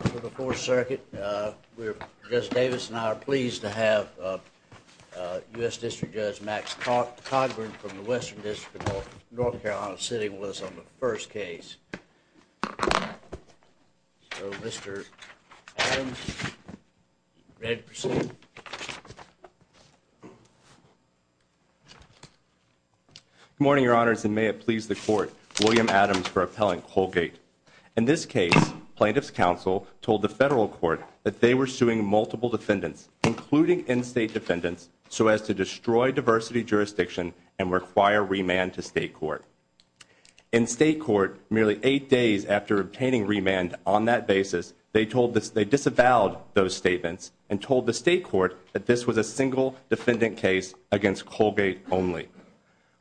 For the 4th Circuit, Judge Davis and I are pleased to have U.S. District Judge Max Cogburn from the Western District of North Carolina sitting with us on the first case. So, Mr. Adams, ready to proceed? Good morning, Your Honors, and may it please the Court, William Adams for Appellant Colgate. In this case, Plaintiffs' Counsel told the Federal Court that they were suing multiple defendants, including in-state defendants, so as to destroy diversity jurisdiction and require remand to State Court. In State Court, merely eight days after obtaining remand on that basis, they disavowed those statements and told the State Court that this was a single defendant case against Colgate only.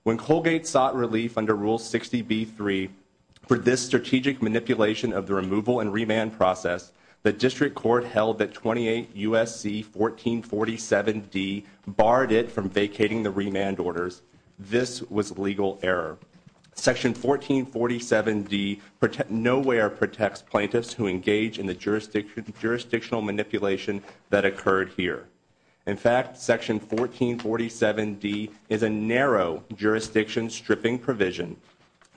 When Colgate sought relief under Rule 60B-3 for this strategic manipulation of the removal and remand process, the District Court held that 28 U.S.C. 1447-D barred it from vacating the remand orders. This was legal error. Section 1447-D nowhere protects plaintiffs who engage in the jurisdictional manipulation that occurred here. In fact, Section 1447-D is a narrow jurisdiction stripping provision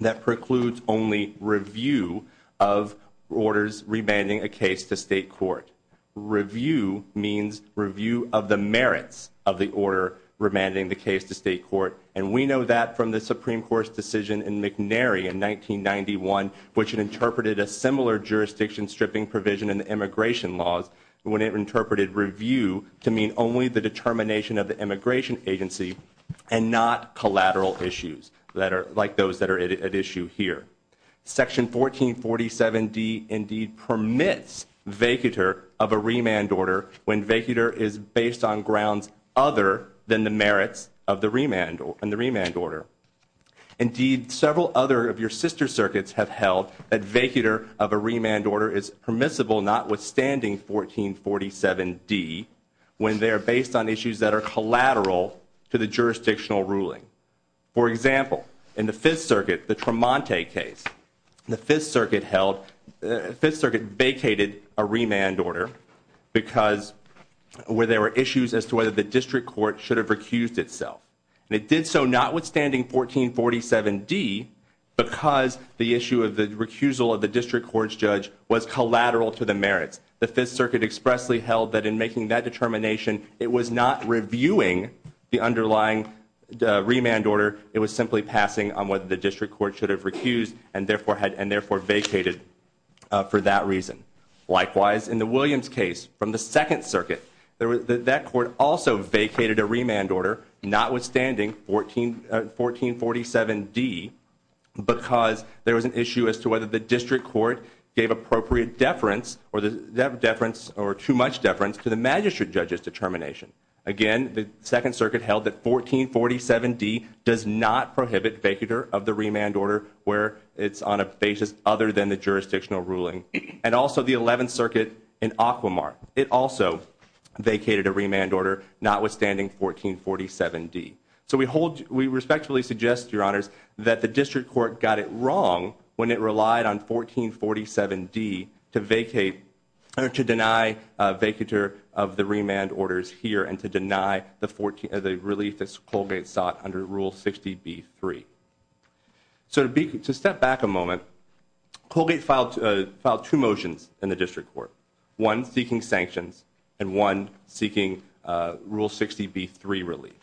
that precludes only review of orders remanding a case to State Court. Review means review of the merits of the order remanding the case to State Court, and we know that from the Supreme Court's decision in McNary in 1991, which interpreted a similar jurisdiction stripping provision in the immigration laws when it interpreted review to mean only the determination of the immigration agency and not collateral issues like those that are at issue here. Section 1447-D indeed permits vacater of a remand order when vacater is based on grounds other than the merits of the remand order. Indeed, several other of your sister circuits have held that vacater of a remand order is permissible notwithstanding 1447-D when they are based on issues that are collateral to the jurisdictional ruling. For example, in the Fifth Circuit, the Tremonte case, the Fifth Circuit held, the Fifth Circuit vacated a remand order because where there were issues as to whether the district court should have recused itself. And it did so notwithstanding 1447-D because the issue of the recusal of the district court's judge was collateral to the merits. The Fifth Circuit expressly held that in making that determination, it was not reviewing the underlying remand order. It was simply passing on what the district court should have recused and therefore vacated for that reason. Likewise, in the Williams case from the Second Circuit, that court also vacated a remand order notwithstanding 1447-D because there was an issue as to whether the district court gave appropriate deference or too much deference to the magistrate judge's determination. Again, the Second Circuit held that 1447-D does not prohibit vacater of the remand order where it's on a basis other than the jurisdictional ruling. And also the Eleventh Circuit in Aquamar, it also vacated a remand order notwithstanding 1447-D. So we respectfully suggest, Your Honors, that the district court got it wrong when it relied on 1447-D to vacate or to deny vacater of the remand orders here and to deny the relief that Colgate sought under Rule 60B-3. So to step back a moment, Colgate filed two motions in the district court, one seeking sanctions and one seeking Rule 60B-3 relief.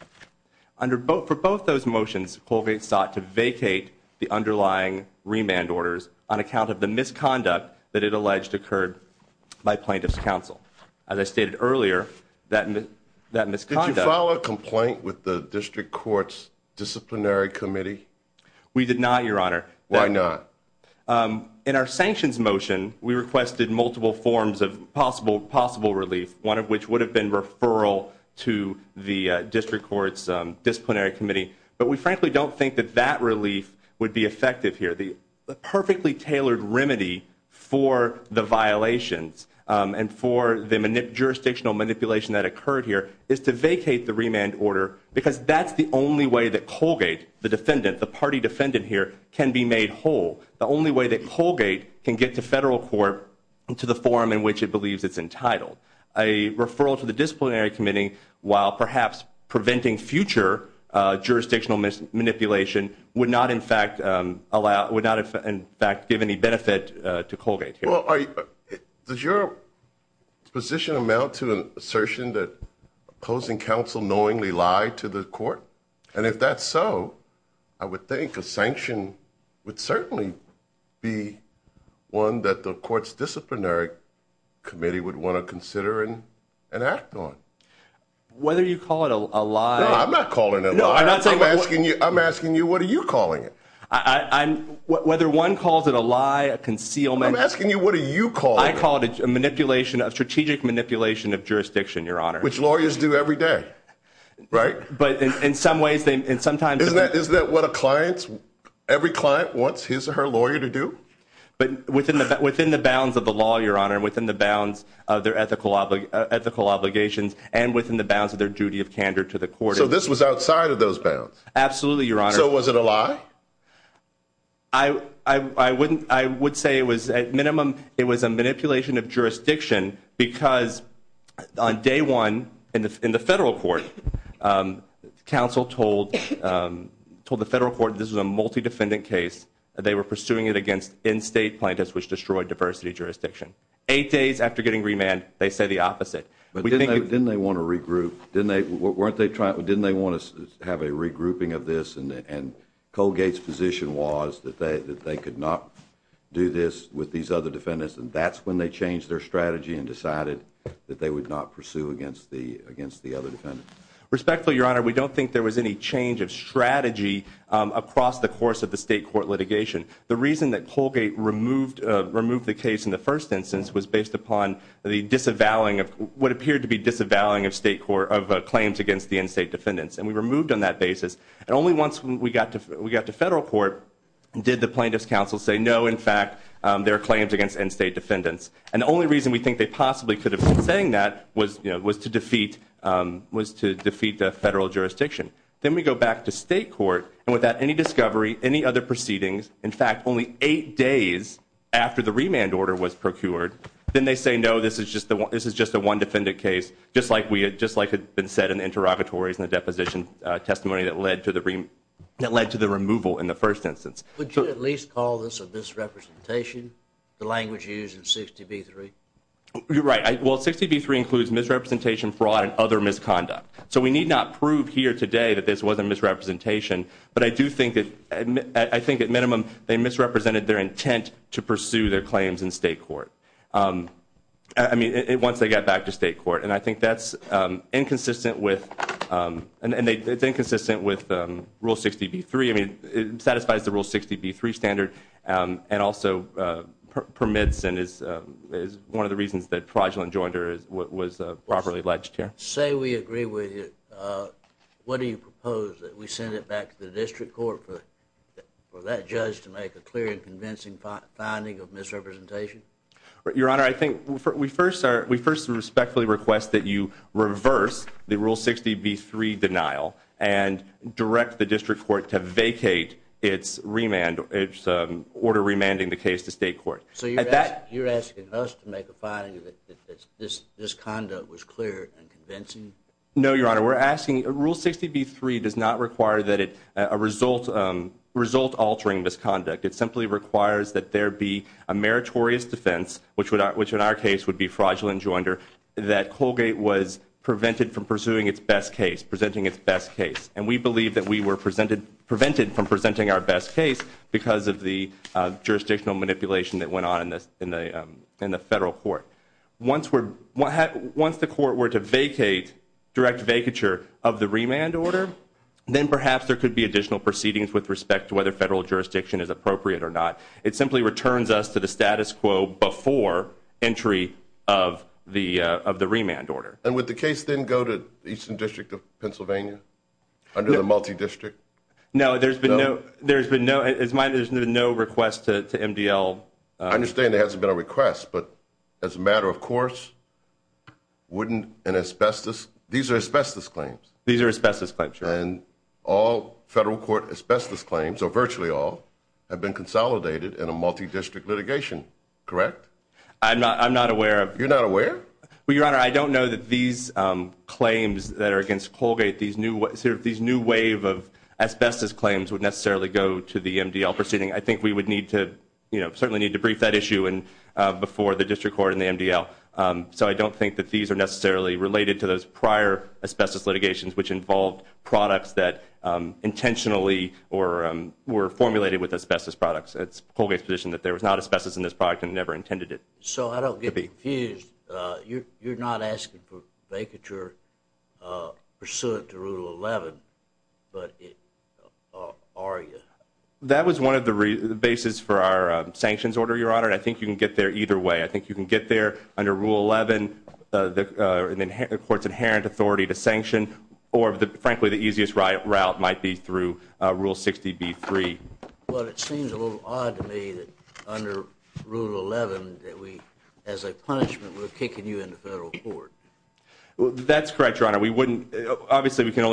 For both those motions, Colgate sought to vacate the underlying remand orders on account of the misconduct that it alleged occurred by plaintiff's counsel. As I stated earlier, that misconduct... Did you file a complaint with the district court's disciplinary committee? We did not, Your Honor. Why not? In our sanctions motion, we requested multiple forms of possible relief, one of which would have been referral to the district court's disciplinary committee. But we frankly don't think that that relief would be effective here. The perfectly tailored remedy for the violations and for the jurisdictional manipulation that occurred here is to vacate the remand order because that's the only way that Colgate, the defendant, the party defendant here, can be made whole. The only way that Colgate can get to federal court to the forum in which it believes it's entitled. A referral to the disciplinary committee, while perhaps preventing future jurisdictional manipulation, would not in fact give any benefit to Colgate. Does your position amount to an assertion that opposing counsel knowingly lied to the court? And if that's so, I would think a sanction would certainly be one that the court's disciplinary committee would want to consider and act on. Whether you call it a lie... No, I'm not calling it a lie. No, I'm not saying... I'm asking you, what are you calling it? Whether one calls it a lie, a concealment... I'm asking you, what are you calling it? I call it a manipulation, a strategic manipulation of jurisdiction, Your Honor. Which lawyers do every day, right? Isn't that what every client wants his or her lawyer to do? Within the bounds of the law, Your Honor, within the bounds of their ethical obligations, and within the bounds of their duty of candor to the court. So this was outside of those bounds? Absolutely, Your Honor. So was it a lie? I would say it was, at minimum, it was a manipulation of jurisdiction because on day one, in the federal court, counsel told the federal court this was a multi-defendant case. They were pursuing it against in-state plaintiffs, which destroyed diversity jurisdiction. Eight days after getting remand, they said the opposite. Didn't they want to regroup? Didn't they want to have a regrouping of this, and Colgate's position was that they could not do this with these other defendants, and that's when they changed their strategy and decided that they would not pursue against the other defendants? Respectfully, Your Honor, we don't think there was any change of strategy across the course of the state court litigation. The reason that Colgate removed the case in the first instance was based upon the disavowing of what appeared to be disavowing of claims against the in-state defendants, and we removed on that basis. And only once we got to federal court did the plaintiffs' counsel say, no, in fact, there are claims against in-state defendants. And the only reason we think they possibly could have been saying that was to defeat the federal jurisdiction. Then we go back to state court, and without any discovery, any other proceedings, in fact, only eight days after the remand order was procured, then they say, no, this is just a one-defendant case, just like it had been said in the interrogatories and the deposition testimony that led to the removal in the first instance. Would you at least call this a misrepresentation, the language used in 60B3? You're right. Well, 60B3 includes misrepresentation, fraud, and other misconduct. So we need not prove here today that this was a misrepresentation, but I do think at minimum they misrepresented their intent to pursue their claims in state court. I mean, once they got back to state court. And I think that's inconsistent with rule 60B3. I mean, it satisfies the rule 60B3 standard and also permits and is one of the reasons that fraudulent joinder was properly alleged here. Say we agree with you, what do you propose, that we send it back to the district court for that judge to make a clear and convincing finding of misrepresentation? Your Honor, I think we first respectfully request that you reverse the rule 60B3 denial and direct the district court to vacate its order remanding the case to state court. So you're asking us to make a finding that this conduct was clear and convincing? No, Your Honor. Rule 60B3 does not require a result-altering misconduct. It simply requires that there be a meritorious defense, which in our case would be fraudulent joinder, that Colgate was prevented from pursuing its best case, presenting its best case. And we believe that we were prevented from presenting our best case because of the jurisdictional manipulation that went on in the federal court. Once the court were to vacate, direct vacature of the remand order, then perhaps there could be additional proceedings with respect to whether federal jurisdiction is appropriate or not. It simply returns us to the status quo before entry of the remand order. And would the case then go to the Eastern District of Pennsylvania under the multi-district? No, there's been no request to MDL. I understand there hasn't been a request, but as a matter of course, wouldn't an asbestos – these are asbestos claims. These are asbestos claims, Your Honor. And all federal court asbestos claims, or virtually all, have been consolidated in a multi-district litigation, correct? I'm not aware of – You're not aware? Well, Your Honor, I don't know that these claims that are against Colgate, these new wave of asbestos claims would necessarily go to the MDL proceeding. I think we would need to – certainly need to brief that issue before the district court and the MDL. So I don't think that these are necessarily related to those prior asbestos litigations, which involved products that intentionally or were formulated with asbestos products. It's Colgate's position that there was not asbestos in this product and never intended it. So I don't get confused. You're not asking for vacature pursuant to Rule 11, but are you? That was one of the basis for our sanctions order, Your Honor, and I think you can get there either way. I think you can get there under Rule 11, the court's inherent authority to sanction, or frankly, the easiest route might be through Rule 60b-3. Well, it seems a little odd to me that under Rule 11 that we, as a punishment, we're kicking you into federal court. That's correct, Your Honor. We wouldn't – obviously, we can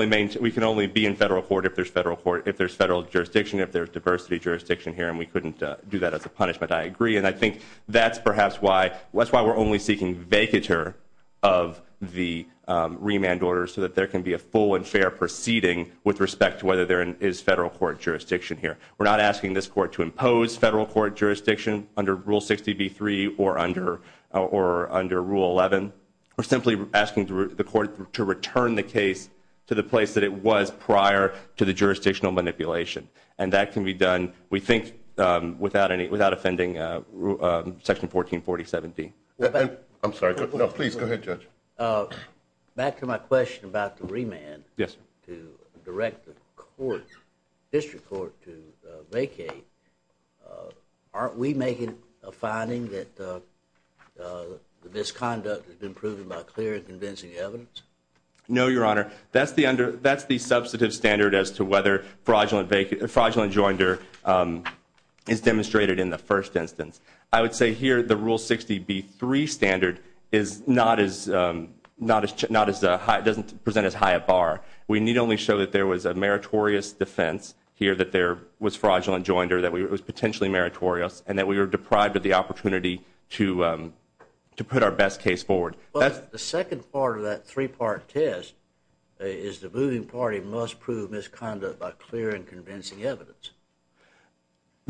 only be in federal court if there's federal jurisdiction, if there's diversity jurisdiction here, and we couldn't do that as a punishment. I agree, and I think that's perhaps why we're only seeking vacature of the remand order so that there can be a full and fair proceeding with respect to whether there is federal court jurisdiction here. We're not asking this court to impose federal court jurisdiction under Rule 60b-3 or under Rule 11. We're simply asking the court to return the case to the place that it was prior to the jurisdictional manipulation, and that can be done, we think, without offending Section 1440-17. I'm sorry. No, please, go ahead, Judge. Back to my question about the remand. Yes, sir. To direct the district court to vacate, aren't we making a finding that this conduct has been proven by clear and convincing evidence? No, Your Honor. That's the substantive standard as to whether fraudulent joinder is demonstrated in the first instance. I would say here the Rule 60b-3 standard doesn't present as high a bar. We need only show that there was a meritorious defense here, that there was fraudulent joinder, that it was potentially meritorious, and that we were deprived of the opportunity to put our best case forward. But the second part of that three-part test is the moving party must prove misconduct by clear and convincing evidence.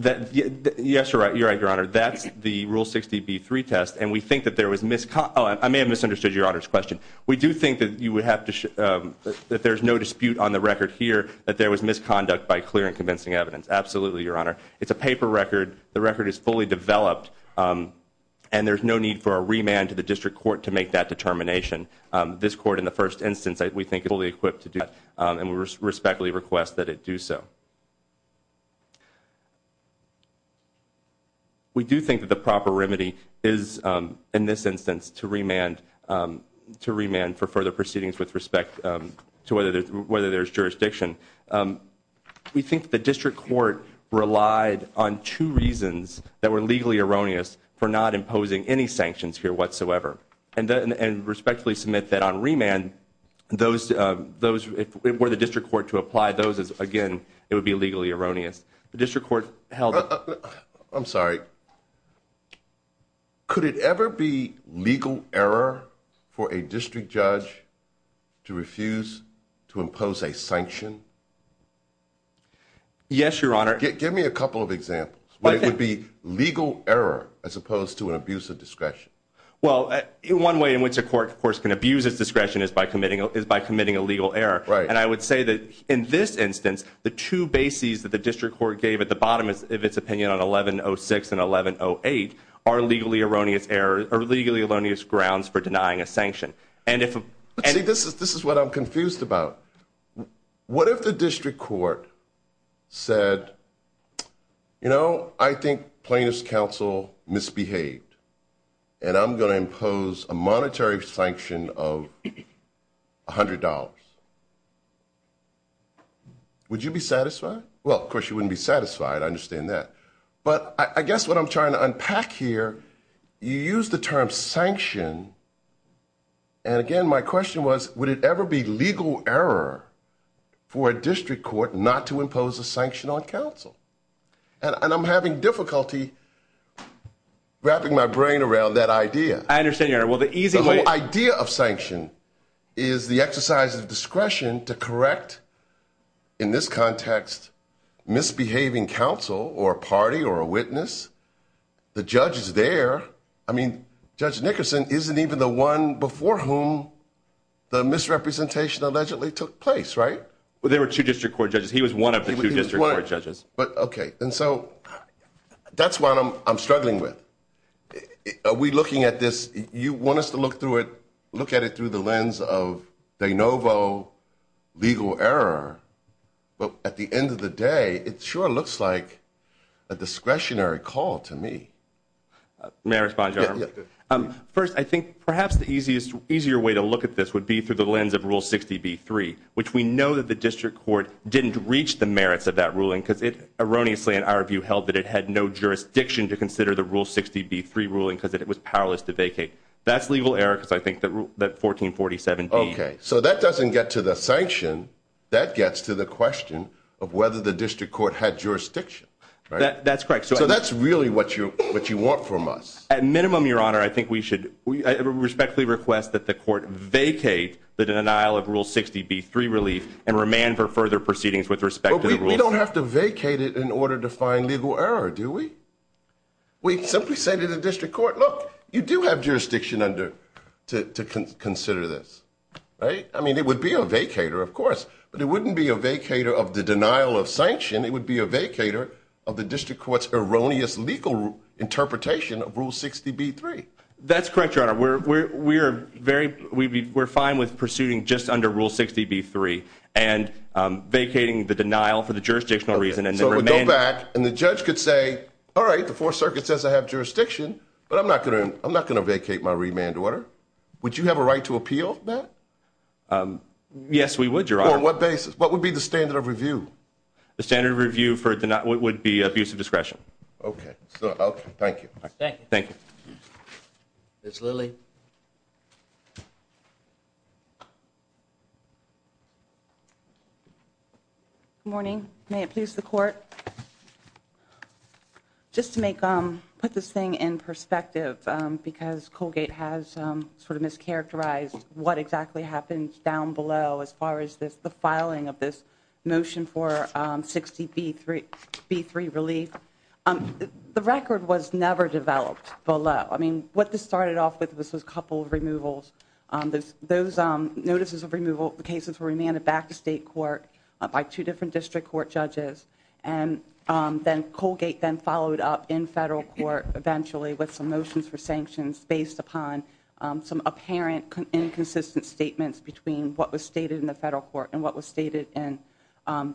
Yes, you're right, Your Honor. That's the Rule 60b-3 test, and we think that there was misconduct. Oh, I may have misunderstood Your Honor's question. We do think that there's no dispute on the record here that there was misconduct by clear and convincing evidence. Absolutely, Your Honor. It's a paper record. The record is fully developed, and there's no need for a remand to the district court to make that determination. This court, in the first instance, we think is fully equipped to do that, and we respectfully request that it do so. We do think that the proper remedy is, in this instance, to remand for further proceedings with respect to whether there's jurisdiction. We think the district court relied on two reasons that were legally erroneous for not imposing any sanctions here whatsoever, and respectfully submit that on remand, if it were the district court to apply those, again, it would be legally erroneous. The district court held- I'm sorry. Could it ever be legal error for a district judge to refuse to impose a sanction? Yes, Your Honor. Give me a couple of examples. It would be legal error as opposed to an abuse of discretion. Well, one way in which a court, of course, can abuse its discretion is by committing a legal error, and I would say that, in this instance, the two bases that the district court gave at the bottom of its opinion on 11-06 and 11-08 are legally erroneous grounds for denying a sanction. See, this is what I'm confused about. What if the district court said, you know, I think plaintiff's counsel misbehaved, and I'm going to impose a monetary sanction of $100? Would you be satisfied? Well, of course, you wouldn't be satisfied. I understand that. But I guess what I'm trying to unpack here, you used the term sanction, and, again, my question was would it ever be legal error for a district court not to impose a sanction on counsel? And I'm having difficulty wrapping my brain around that idea. I understand, Your Honor. The whole idea of sanction is the exercise of discretion to correct, in this context, misbehaving counsel or party or a witness. The judge is there. I mean, Judge Nickerson isn't even the one before whom the misrepresentation allegedly took place, right? Well, there were two district court judges. He was one of the two district court judges. But, okay, and so that's what I'm struggling with. Are we looking at this? You want us to look at it through the lens of de novo legal error, but at the end of the day, it sure looks like a discretionary call to me. May I respond, Your Honor? Yes, go ahead. First, I think perhaps the easiest, easier way to look at this would be through the lens of Rule 60B-3, which we know that the district court didn't reach the merits of that ruling because it erroneously, in our view, held that it had no jurisdiction to consider the Rule 60B-3 ruling because it was powerless to vacate. That's legal error because I think that Rule 1447-B. Okay, so that doesn't get to the sanction. That gets to the question of whether the district court had jurisdiction, right? That's correct. So that's really what you want from us. At minimum, Your Honor, I think we should respectfully request that the court vacate the denial of Rule 60B-3 relief and remand for further proceedings with respect to the Rule 60B-3. But we don't have to vacate it in order to find legal error, do we? We simply say to the district court, look, you do have jurisdiction to consider this, right? I mean, it would be a vacater, of course, but it wouldn't be a vacater of the denial of sanction. It would be a vacater of the district court's erroneous legal interpretation of Rule 60B-3. That's correct, Your Honor. We're fine with pursuing just under Rule 60B-3 and vacating the denial for the jurisdictional reason. So it would go back, and the judge could say, all right, the Fourth Circuit says I have jurisdiction, but I'm not going to vacate my remand order. Would you have a right to appeal that? Yes, we would, Your Honor. On what basis? What would be the standard of review? The standard of review would be abuse of discretion. Okay. Thank you. Thank you. Thank you. Ms. Lilly? Good morning. May it please the Court? Just to put this thing in perspective, because Colgate has sort of mischaracterized what exactly happens down below as far as the filing of this motion for 60B-3 relief, the record was never developed below. I mean, what this started off with was a couple of removals. Those notices of removal cases were remanded back to state court by two different district court judges, and then Colgate then followed up in federal court eventually with some motions for sanctions based upon some apparent inconsistent statements between what was stated in the federal court and what was stated in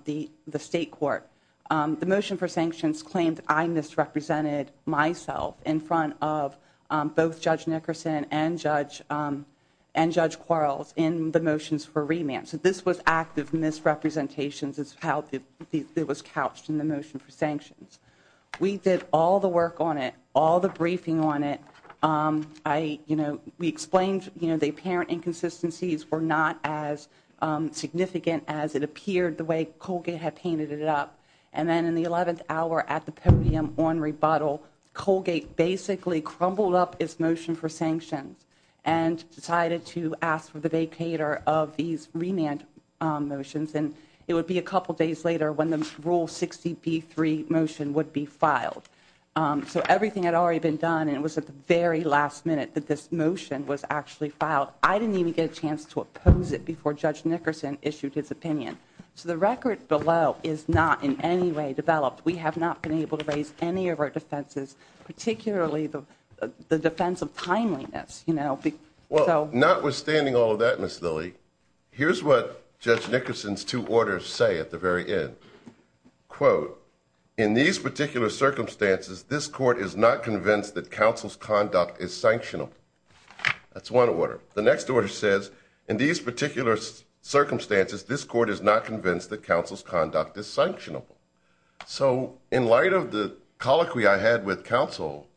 the state court. The motion for sanctions claimed I misrepresented myself in front of both Judge Nickerson and Judge Quarles in the motions for remand. So this was active misrepresentations is how it was couched in the motion for sanctions. We did all the work on it, all the briefing on it. We explained the apparent inconsistencies were not as significant as it appeared the way Colgate had painted it up. And then in the 11th hour at the podium on rebuttal, Colgate basically crumbled up his motion for sanctions and decided to ask for the vacater of these remand motions. And it would be a couple days later when the Rule 60B3 motion would be filed. So everything had already been done, and it was at the very last minute that this motion was actually filed. I didn't even get a chance to oppose it before Judge Nickerson issued his opinion. So the record below is not in any way developed. We have not been able to raise any of our defenses, particularly the defense of timeliness. Well, notwithstanding all of that, Ms. Lilly, here's what Judge Nickerson's two orders say at the very end. Quote, in these particular circumstances, this court is not convinced that counsel's conduct is sanctionable. That's one order. The next order says, in these particular circumstances, this court is not convinced that counsel's conduct is sanctionable. So in light of the colloquy I had with counsel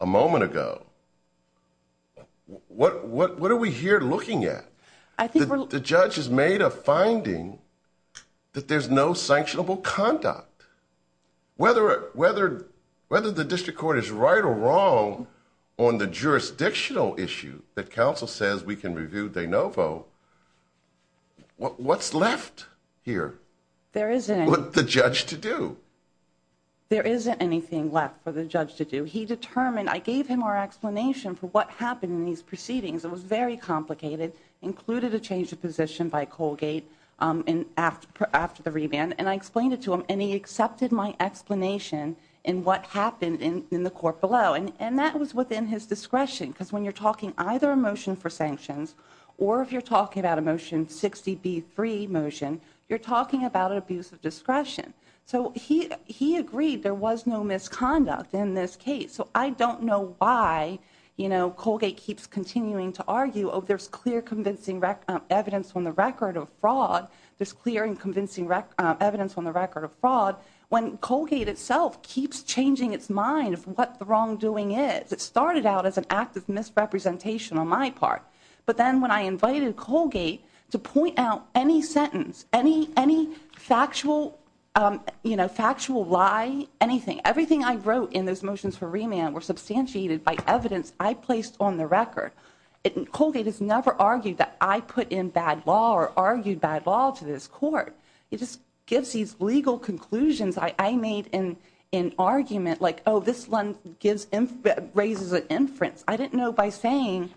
a moment ago, what are we here looking at? The judge has made a finding that there's no sanctionable conduct. Whether the district court is right or wrong on the jurisdictional issue that counsel says we can review de novo, what's left here? There isn't. What's the judge to do? There isn't anything left for the judge to do. He determined, I gave him our explanation for what happened in these proceedings. It was very complicated, included a change of position by Colgate after the reband. And I explained it to him, and he accepted my explanation in what happened in the court below. And that was within his discretion. Because when you're talking either a motion for sanctions or if you're talking about a motion 60B3 motion, you're talking about an abuse of discretion. So he agreed there was no misconduct in this case. So I don't know why Colgate keeps continuing to argue, oh, there's clear convincing evidence on the record of fraud. There's clear and convincing evidence on the record of fraud. When Colgate itself keeps changing its mind of what the wrongdoing is. It started out as an act of misrepresentation on my part. But then when I invited Colgate to point out any sentence, any factual lie, anything, everything I wrote in those motions for remand were substantiated by evidence I placed on the record. Colgate has never argued that I put in bad law or argued bad law to this court. It just gives these legal conclusions I made in argument like, oh, this raises an inference. I didn't know by saying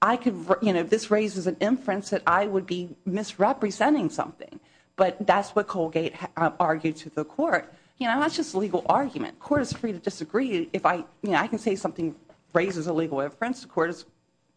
this raises an inference that I would be misrepresenting something. But that's what Colgate argued to the court. That's just a legal argument. The court is free to disagree. I can say something raises a legal inference. The court is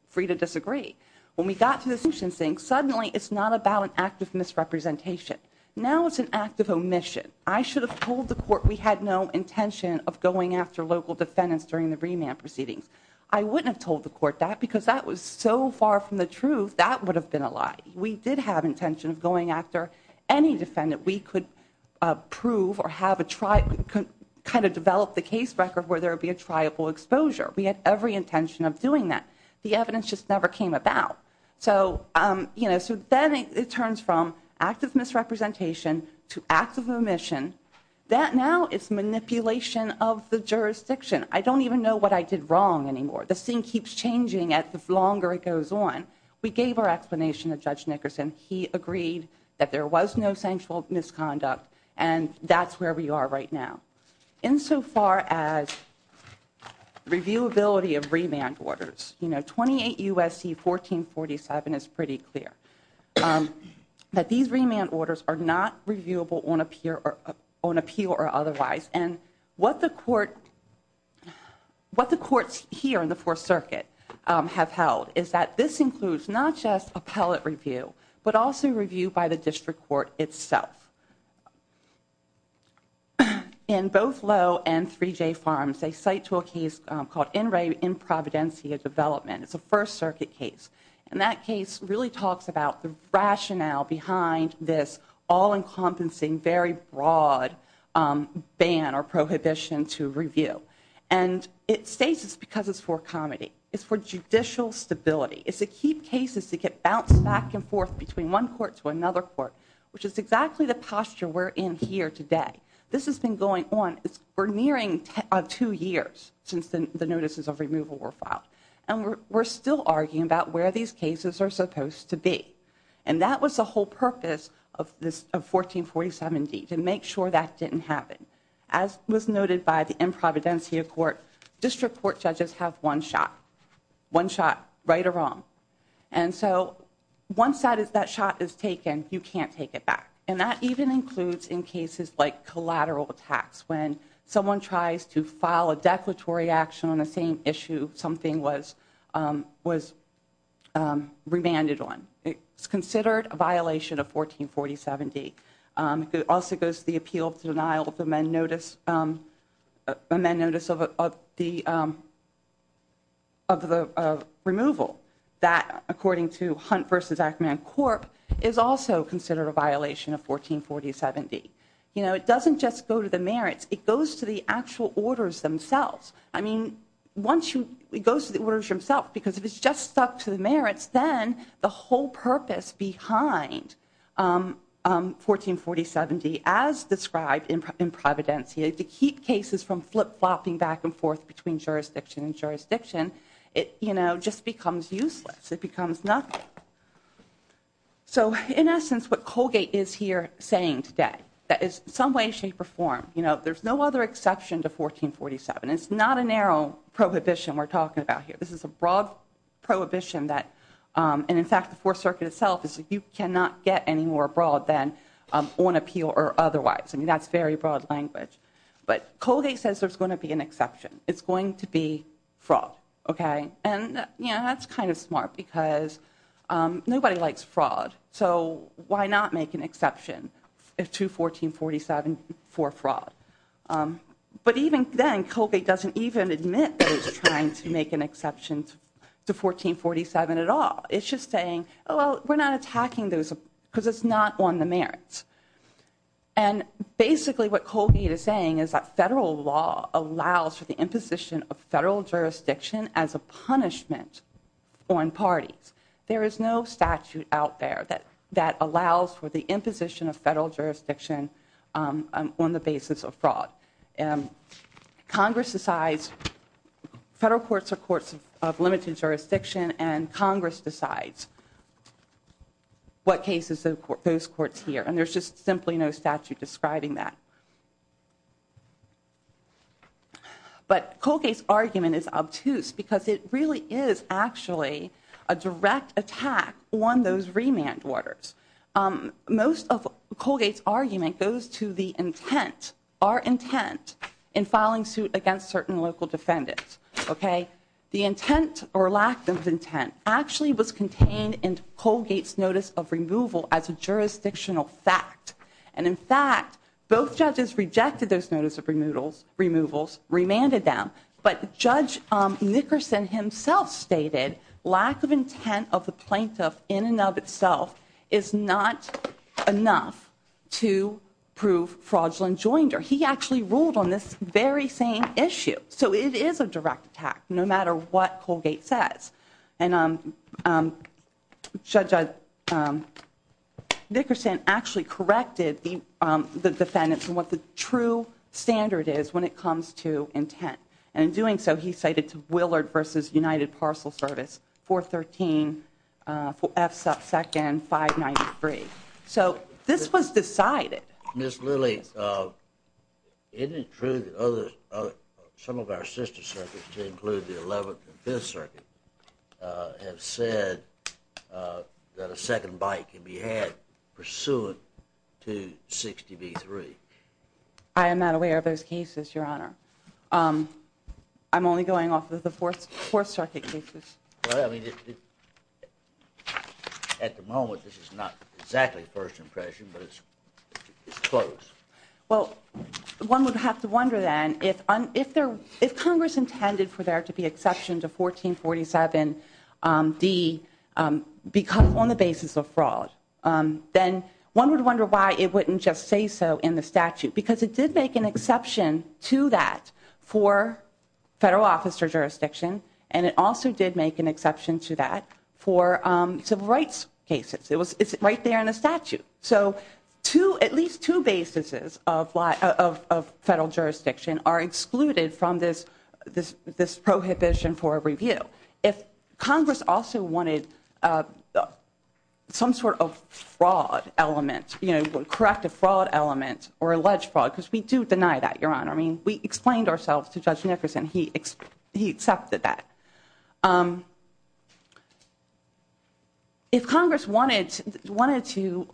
free to disagree. When we got to this motion saying suddenly it's not about an act of misrepresentation. Now it's an act of omission. I should have told the court we had no intention of going after local defendants during the remand proceedings. I wouldn't have told the court that because that was so far from the truth that would have been a lie. We did have intention of going after any defendant. We could prove or have a try, kind of develop the case record where there would be a triable exposure. We had every intention of doing that. The evidence just never came about. So then it turns from act of misrepresentation to act of omission. That now is manipulation of the jurisdiction. I don't even know what I did wrong anymore. The scene keeps changing the longer it goes on. We gave our explanation to Judge Nickerson. He agreed that there was no sensual misconduct, and that's where we are right now. Insofar as reviewability of remand orders, you know, 28 U.S.C. 1447 is pretty clear. That these remand orders are not reviewable on appeal or otherwise. And what the courts here in the Fourth Circuit have held is that this includes not just appellate review, but also review by the district court itself. In both Lowe and 3J Farms, they cite to a case called In Re Improvidencia Development. It's a First Circuit case. And that case really talks about the rationale behind this all-encompassing, very broad ban or prohibition to review. And it states it's because it's for comedy. It's for judicial stability. It's to keep cases to get bounced back and forth between one court to another court, which is exactly the posture we're in here today. This has been going on. We're nearing two years since the notices of removal were filed. And we're still arguing about where these cases are supposed to be. And that was the whole purpose of 1447D, to make sure that didn't happen. As was noted by the Improvidencia Court, district court judges have one shot. One shot, right or wrong. And so once that shot is taken, you can't take it back. And that even includes in cases like collateral attacks, when someone tries to file a declaratory action on the same issue something was remanded on. It's considered a violation of 1447D. It also goes to the appeal of denial of amend notice of the removal. That, according to Hunt v. Ackman Corp., is also considered a violation of 1447D. You know, it doesn't just go to the merits. It goes to the actual orders themselves. I mean, it goes to the orders themselves because if it's just stuck to the merits, then the whole purpose behind 1447D, as described in Providencia, to keep cases from flip-flopping back and forth between jurisdiction and jurisdiction, you know, just becomes useless. It becomes nothing. So, in essence, what Colgate is here saying today, that in some way, shape, or form, you know, there's no other exception to 1447. It's not a narrow prohibition we're talking about here. This is a broad prohibition that, and in fact, the Fourth Circuit itself is that you cannot get any more broad than on appeal or otherwise. I mean, that's very broad language. But Colgate says there's going to be an exception. It's going to be fraud, okay? And, you know, that's kind of smart because nobody likes fraud, so why not make an exception to 1447 for fraud? But even then, Colgate doesn't even admit that he's trying to make an exception to 1447 at all. It's just saying, well, we're not attacking those because it's not on the merits. And, basically, what Colgate is saying is that federal law allows for the imposition of federal jurisdiction as a punishment on parties. There is no statute out there that allows for the imposition of federal jurisdiction on the basis of fraud. Congress decides federal courts are courts of limited jurisdiction, and Congress decides what cases those courts hear. And there's just simply no statute describing that. But Colgate's argument is obtuse because it really is actually a direct attack on those remand orders. Most of Colgate's argument goes to the intent, our intent, in filing suit against certain local defendants, okay? The intent or lack of intent actually was contained in Colgate's notice of removal as a jurisdictional fact. And, in fact, both judges rejected those notice of removals, remanded them. But Judge Nickerson himself stated lack of intent of the plaintiff in and of itself is not enough to prove fraudulent joinder. He actually ruled on this very same issue. So it is a direct attack, no matter what Colgate says. And Judge Nickerson actually corrected the defendants on what the true standard is when it comes to intent. And in doing so, he cited to Willard v. United Parcel Service 413F2-593. So this was decided. Ms. Lilly, isn't it true that some of our sister circuits, to include the 11th and 5th Circuit, have said that a second bite can be had pursuant to 60 v. 3? I am not aware of those cases, Your Honor. I'm only going off of the 4th Circuit cases. Well, I mean, at the moment, this is not exactly first impression, but it's close. Well, one would have to wonder, then, if Congress intended for there to be exceptions of 1447D on the basis of fraud, then one would wonder why it wouldn't just say so in the statute. Because it did make an exception to that for federal office or jurisdiction, and it also did make an exception to that for civil rights cases. It's right there in the statute. So at least two bases of federal jurisdiction are excluded from this prohibition for review. If Congress also wanted some sort of fraud element, you know, corrective fraud element or alleged fraud, because we do deny that, Your Honor. I mean, we explained ourselves to Judge Nickerson. He accepted that. If Congress wanted to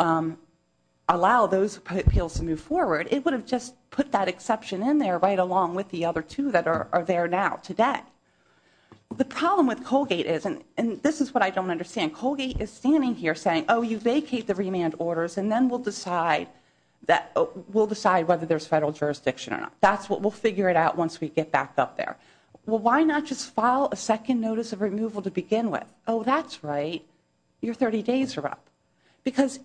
allow those appeals to move forward, it would have just put that exception in there right along with the other two that are there now today. The problem with Colgate is, and this is what I don't understand. Colgate is standing here saying, oh, you vacate the remand orders, and then we'll decide whether there's federal jurisdiction or not. That's what we'll figure it out once we get back up there. Well, why not just file a second notice of removal to begin with? Oh, that's right. Your 30 days are up. Because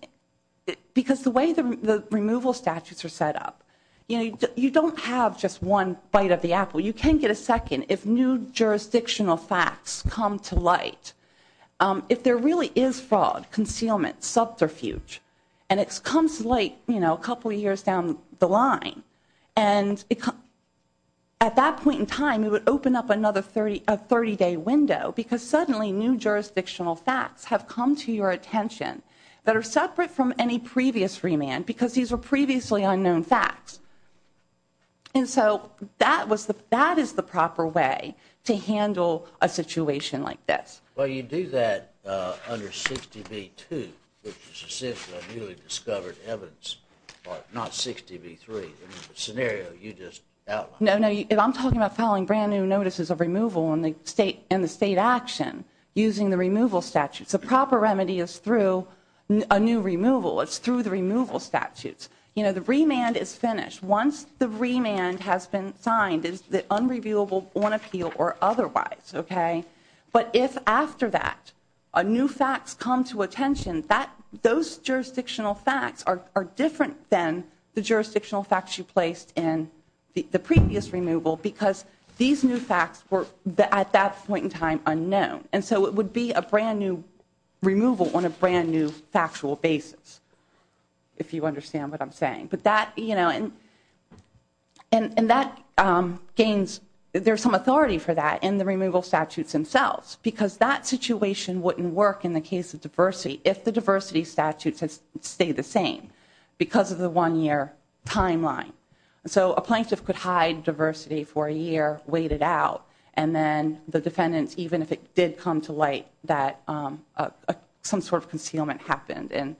the way the removal statutes are set up, you know, you don't have just one bite of the apple. You can get a second if new jurisdictional facts come to light. If there really is fraud, concealment, subterfuge, and it comes late, you know, a couple years down the line, and at that point in time, it would open up another 30-day window because suddenly new jurisdictional facts have come to your attention that are separate from any previous remand because these were previously unknown facts. And so that is the proper way to handle a situation like this. Well, you do that under 60B2, which is essentially a newly discovered evidence part, not 60B3, the scenario you just outlined. No, no, I'm talking about filing brand new notices of removal in the state action using the removal statutes. The proper remedy is through a new removal. It's through the removal statutes. You know, the remand is finished. Once the remand has been signed, it's unreviewable on appeal or otherwise, okay? But if, after that, new facts come to attention, those jurisdictional facts are different than the jurisdictional facts you placed in the previous removal because these new facts were, at that point in time, unknown. And so it would be a brand new removal on a brand new factual basis, if you understand what I'm saying. But that, you know, and that gains, there's some authority for that in the removal statutes themselves because that situation wouldn't work in the case of diversity if the diversity statutes had stayed the same because of the one-year timeline. So a plaintiff could hide diversity for a year, wait it out, and then the defendants, even if it did come to light that some sort of concealment happened and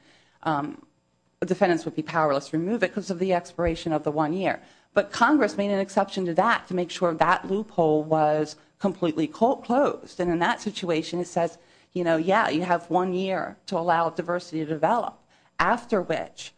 the defendants would be powerless to remove it because of the expiration of the one year. But Congress made an exception to that to make sure that loophole was completely closed. And in that situation, it says, you know, yeah, you have one year to allow diversity to develop. After which,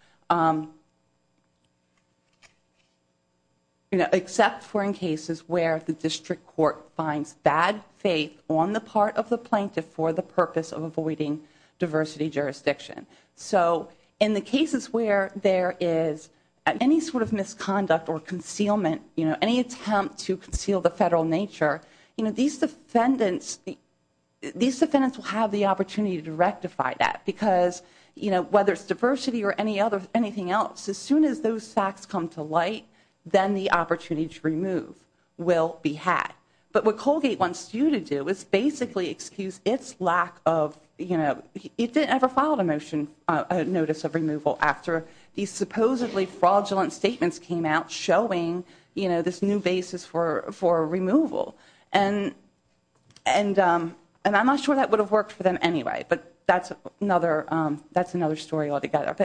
except for in cases where the district court finds bad faith on the part of the plaintiff for the purpose of avoiding diversity jurisdiction. So in the cases where there is any sort of misconduct or concealment, you know, any attempt to conceal the federal nature, you know, these defendants will have the opportunity to rectify that because, you know, whether it's diversity or anything else, as soon as those facts come to light, then the opportunity to remove will be had. But what Colgate wants you to do is basically excuse its lack of, you know, And I'm not sure that would have worked for them anyway, but that's another story altogether.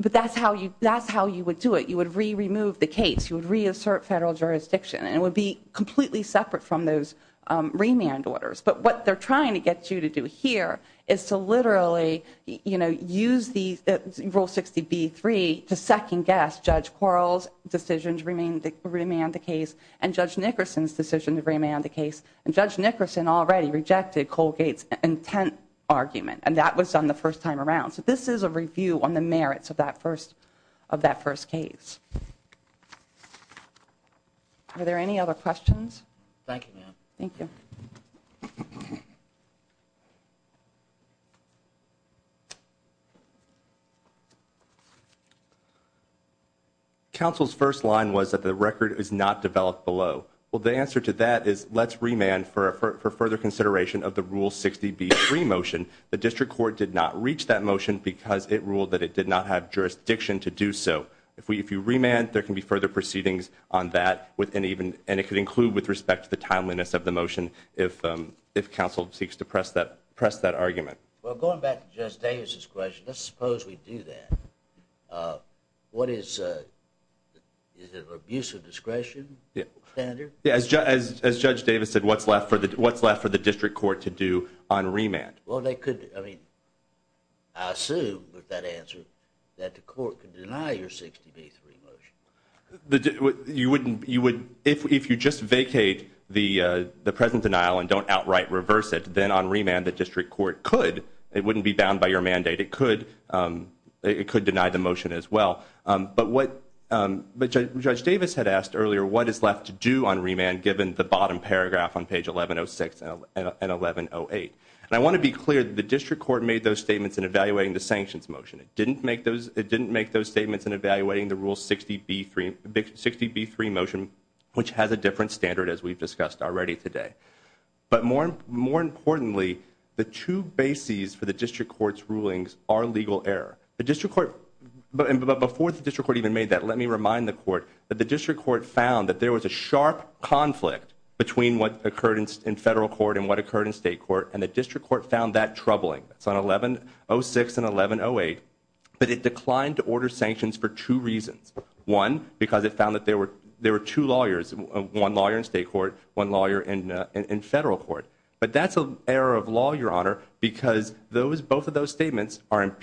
But that's how you would do it. You would re-remove the case. You would reassert federal jurisdiction. And it would be completely separate from those remand orders. But what they're trying to get you to do here is to literally, you know, Rule 60B-3 to second-guess Judge Quarles' decision to remand the case and Judge Nickerson's decision to remand the case. And Judge Nickerson already rejected Colgate's intent argument, and that was done the first time around. So this is a review on the merits of that first case. Are there any other questions? Thank you, ma'am. Thank you. Counsel's first line was that the record is not developed below. Well, the answer to that is let's remand for further consideration of the Rule 60B-3 motion. The district court did not reach that motion because it ruled that it did not have jurisdiction to do so. If you remand, there can be further proceedings on that, and it could include with respect to the timeliness of the motion, if counsel seeks to press that argument. Well, going back to Judge Davis' question, let's suppose we do that. What is the abuse of discretion standard? Yeah, as Judge Davis said, what's left for the district court to do on remand? Well, they could, I mean, I assume with that answer that the court could deny your 60B-3 motion. If you just vacate the present denial and don't outright reverse it, then on remand the district court could. It wouldn't be bound by your mandate. It could deny the motion as well. But Judge Davis had asked earlier what is left to do on remand given the bottom paragraph on page 1106 and 1108. And I want to be clear that the district court made those statements in evaluating the sanctions motion. It didn't make those statements in evaluating the rule 60B-3 motion, which has a different standard, as we've discussed already today. But more importantly, the two bases for the district court's rulings are legal error. But before the district court even made that, let me remind the court that the district court found that there was a sharp conflict between what occurred in federal court and what occurred in state court, and the district court found that troubling. It's on 1106 and 1108. But it declined to order sanctions for two reasons. One, because it found that there were two lawyers, one lawyer in state court, one lawyer in federal court. But that's an error of law, Your Honor, because those, both of those statements are,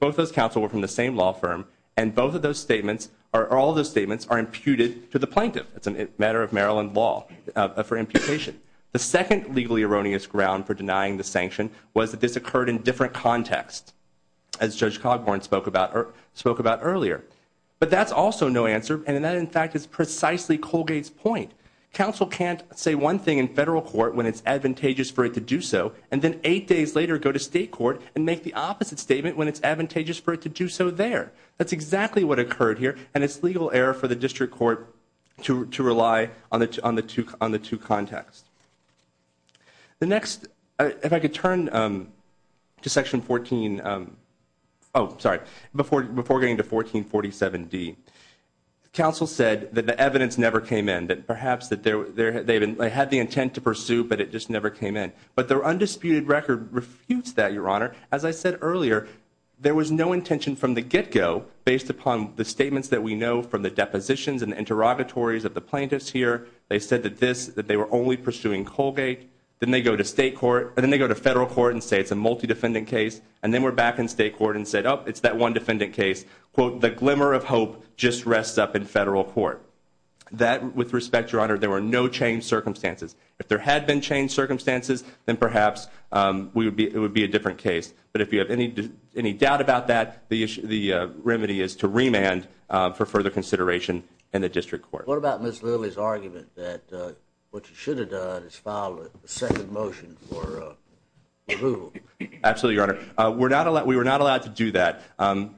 both those counsel were from the same law firm, and both of those statements, or all of those statements are imputed to the plaintiff. It's a matter of Maryland law for imputation. The second legally erroneous ground for denying the sanction was that this occurred in different contexts, as Judge Cogborn spoke about earlier. But that's also no answer, and that in fact is precisely Colgate's point. Counsel can't say one thing in federal court when it's advantageous for it to do so, and then eight days later go to state court and make the opposite statement when it's advantageous for it to do so there. That's exactly what occurred here, and it's legal error for the district court to rely on the two contexts. The next, if I could turn to section 14, oh, sorry, before getting to 1447D. Counsel said that the evidence never came in, that perhaps they had the intent to pursue, but it just never came in. But their undisputed record refutes that, Your Honor. As I said earlier, there was no intention from the get-go based upon the statements that we know from the depositions and interrogatories of the plaintiffs here. They said that they were only pursuing Colgate, then they go to federal court and say it's a multi-defendant case, and then we're back in state court and say, oh, it's that one defendant case. Quote, the glimmer of hope just rests up in federal court. That, with respect, Your Honor, there were no changed circumstances. If there had been changed circumstances, then perhaps it would be a different case. But if you have any doubt about that, the remedy is to remand for further consideration in the district court. What about Ms. Lilly's argument that what you should have done is filed a second motion for approval? Absolutely, Your Honor. We were not allowed to do that.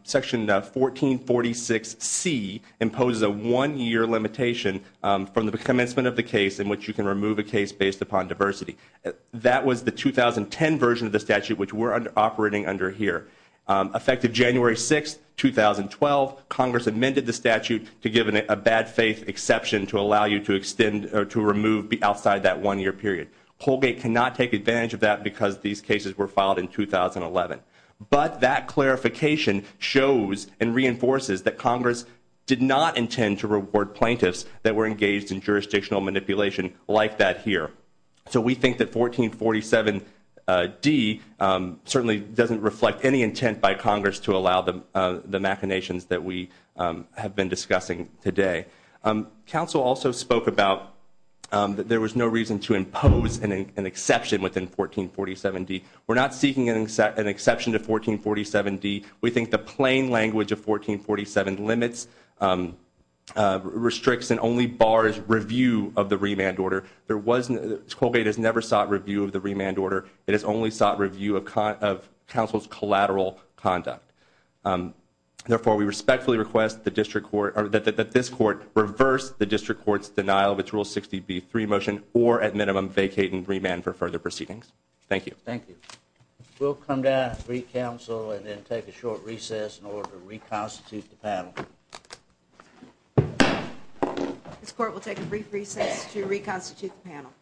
Section 1446C imposes a one-year limitation from the commencement of the case in which you can remove a case based upon diversity. That was the 2010 version of the statute which we're operating under here. Effective January 6, 2012, Congress amended the statute to give a bad faith exception to allow you to extend or to remove outside that one-year period. Colgate cannot take advantage of that because these cases were filed in 2011. But that clarification shows and reinforces that Congress did not intend to reward plaintiffs that were engaged in jurisdictional manipulation like that here. So we think that 1447D certainly doesn't reflect any intent by Congress to allow the machinations that we have been discussing today. Council also spoke about that there was no reason to impose an exception within 1447D. We're not seeking an exception to 1447D. We think the plain language of 1447 limits, restricts, and only bars review of the remand order. Colgate has never sought review of the remand order. It has only sought review of counsel's collateral conduct. Therefore, we respectfully request that this court reverse the district court's denial of its Rule 60B3 motion or, at minimum, vacate and remand for further proceedings. Thank you. Thank you. We'll come down and brief counsel and then take a short recess in order to reconstitute the panel. This court will take a brief recess to reconstitute the panel.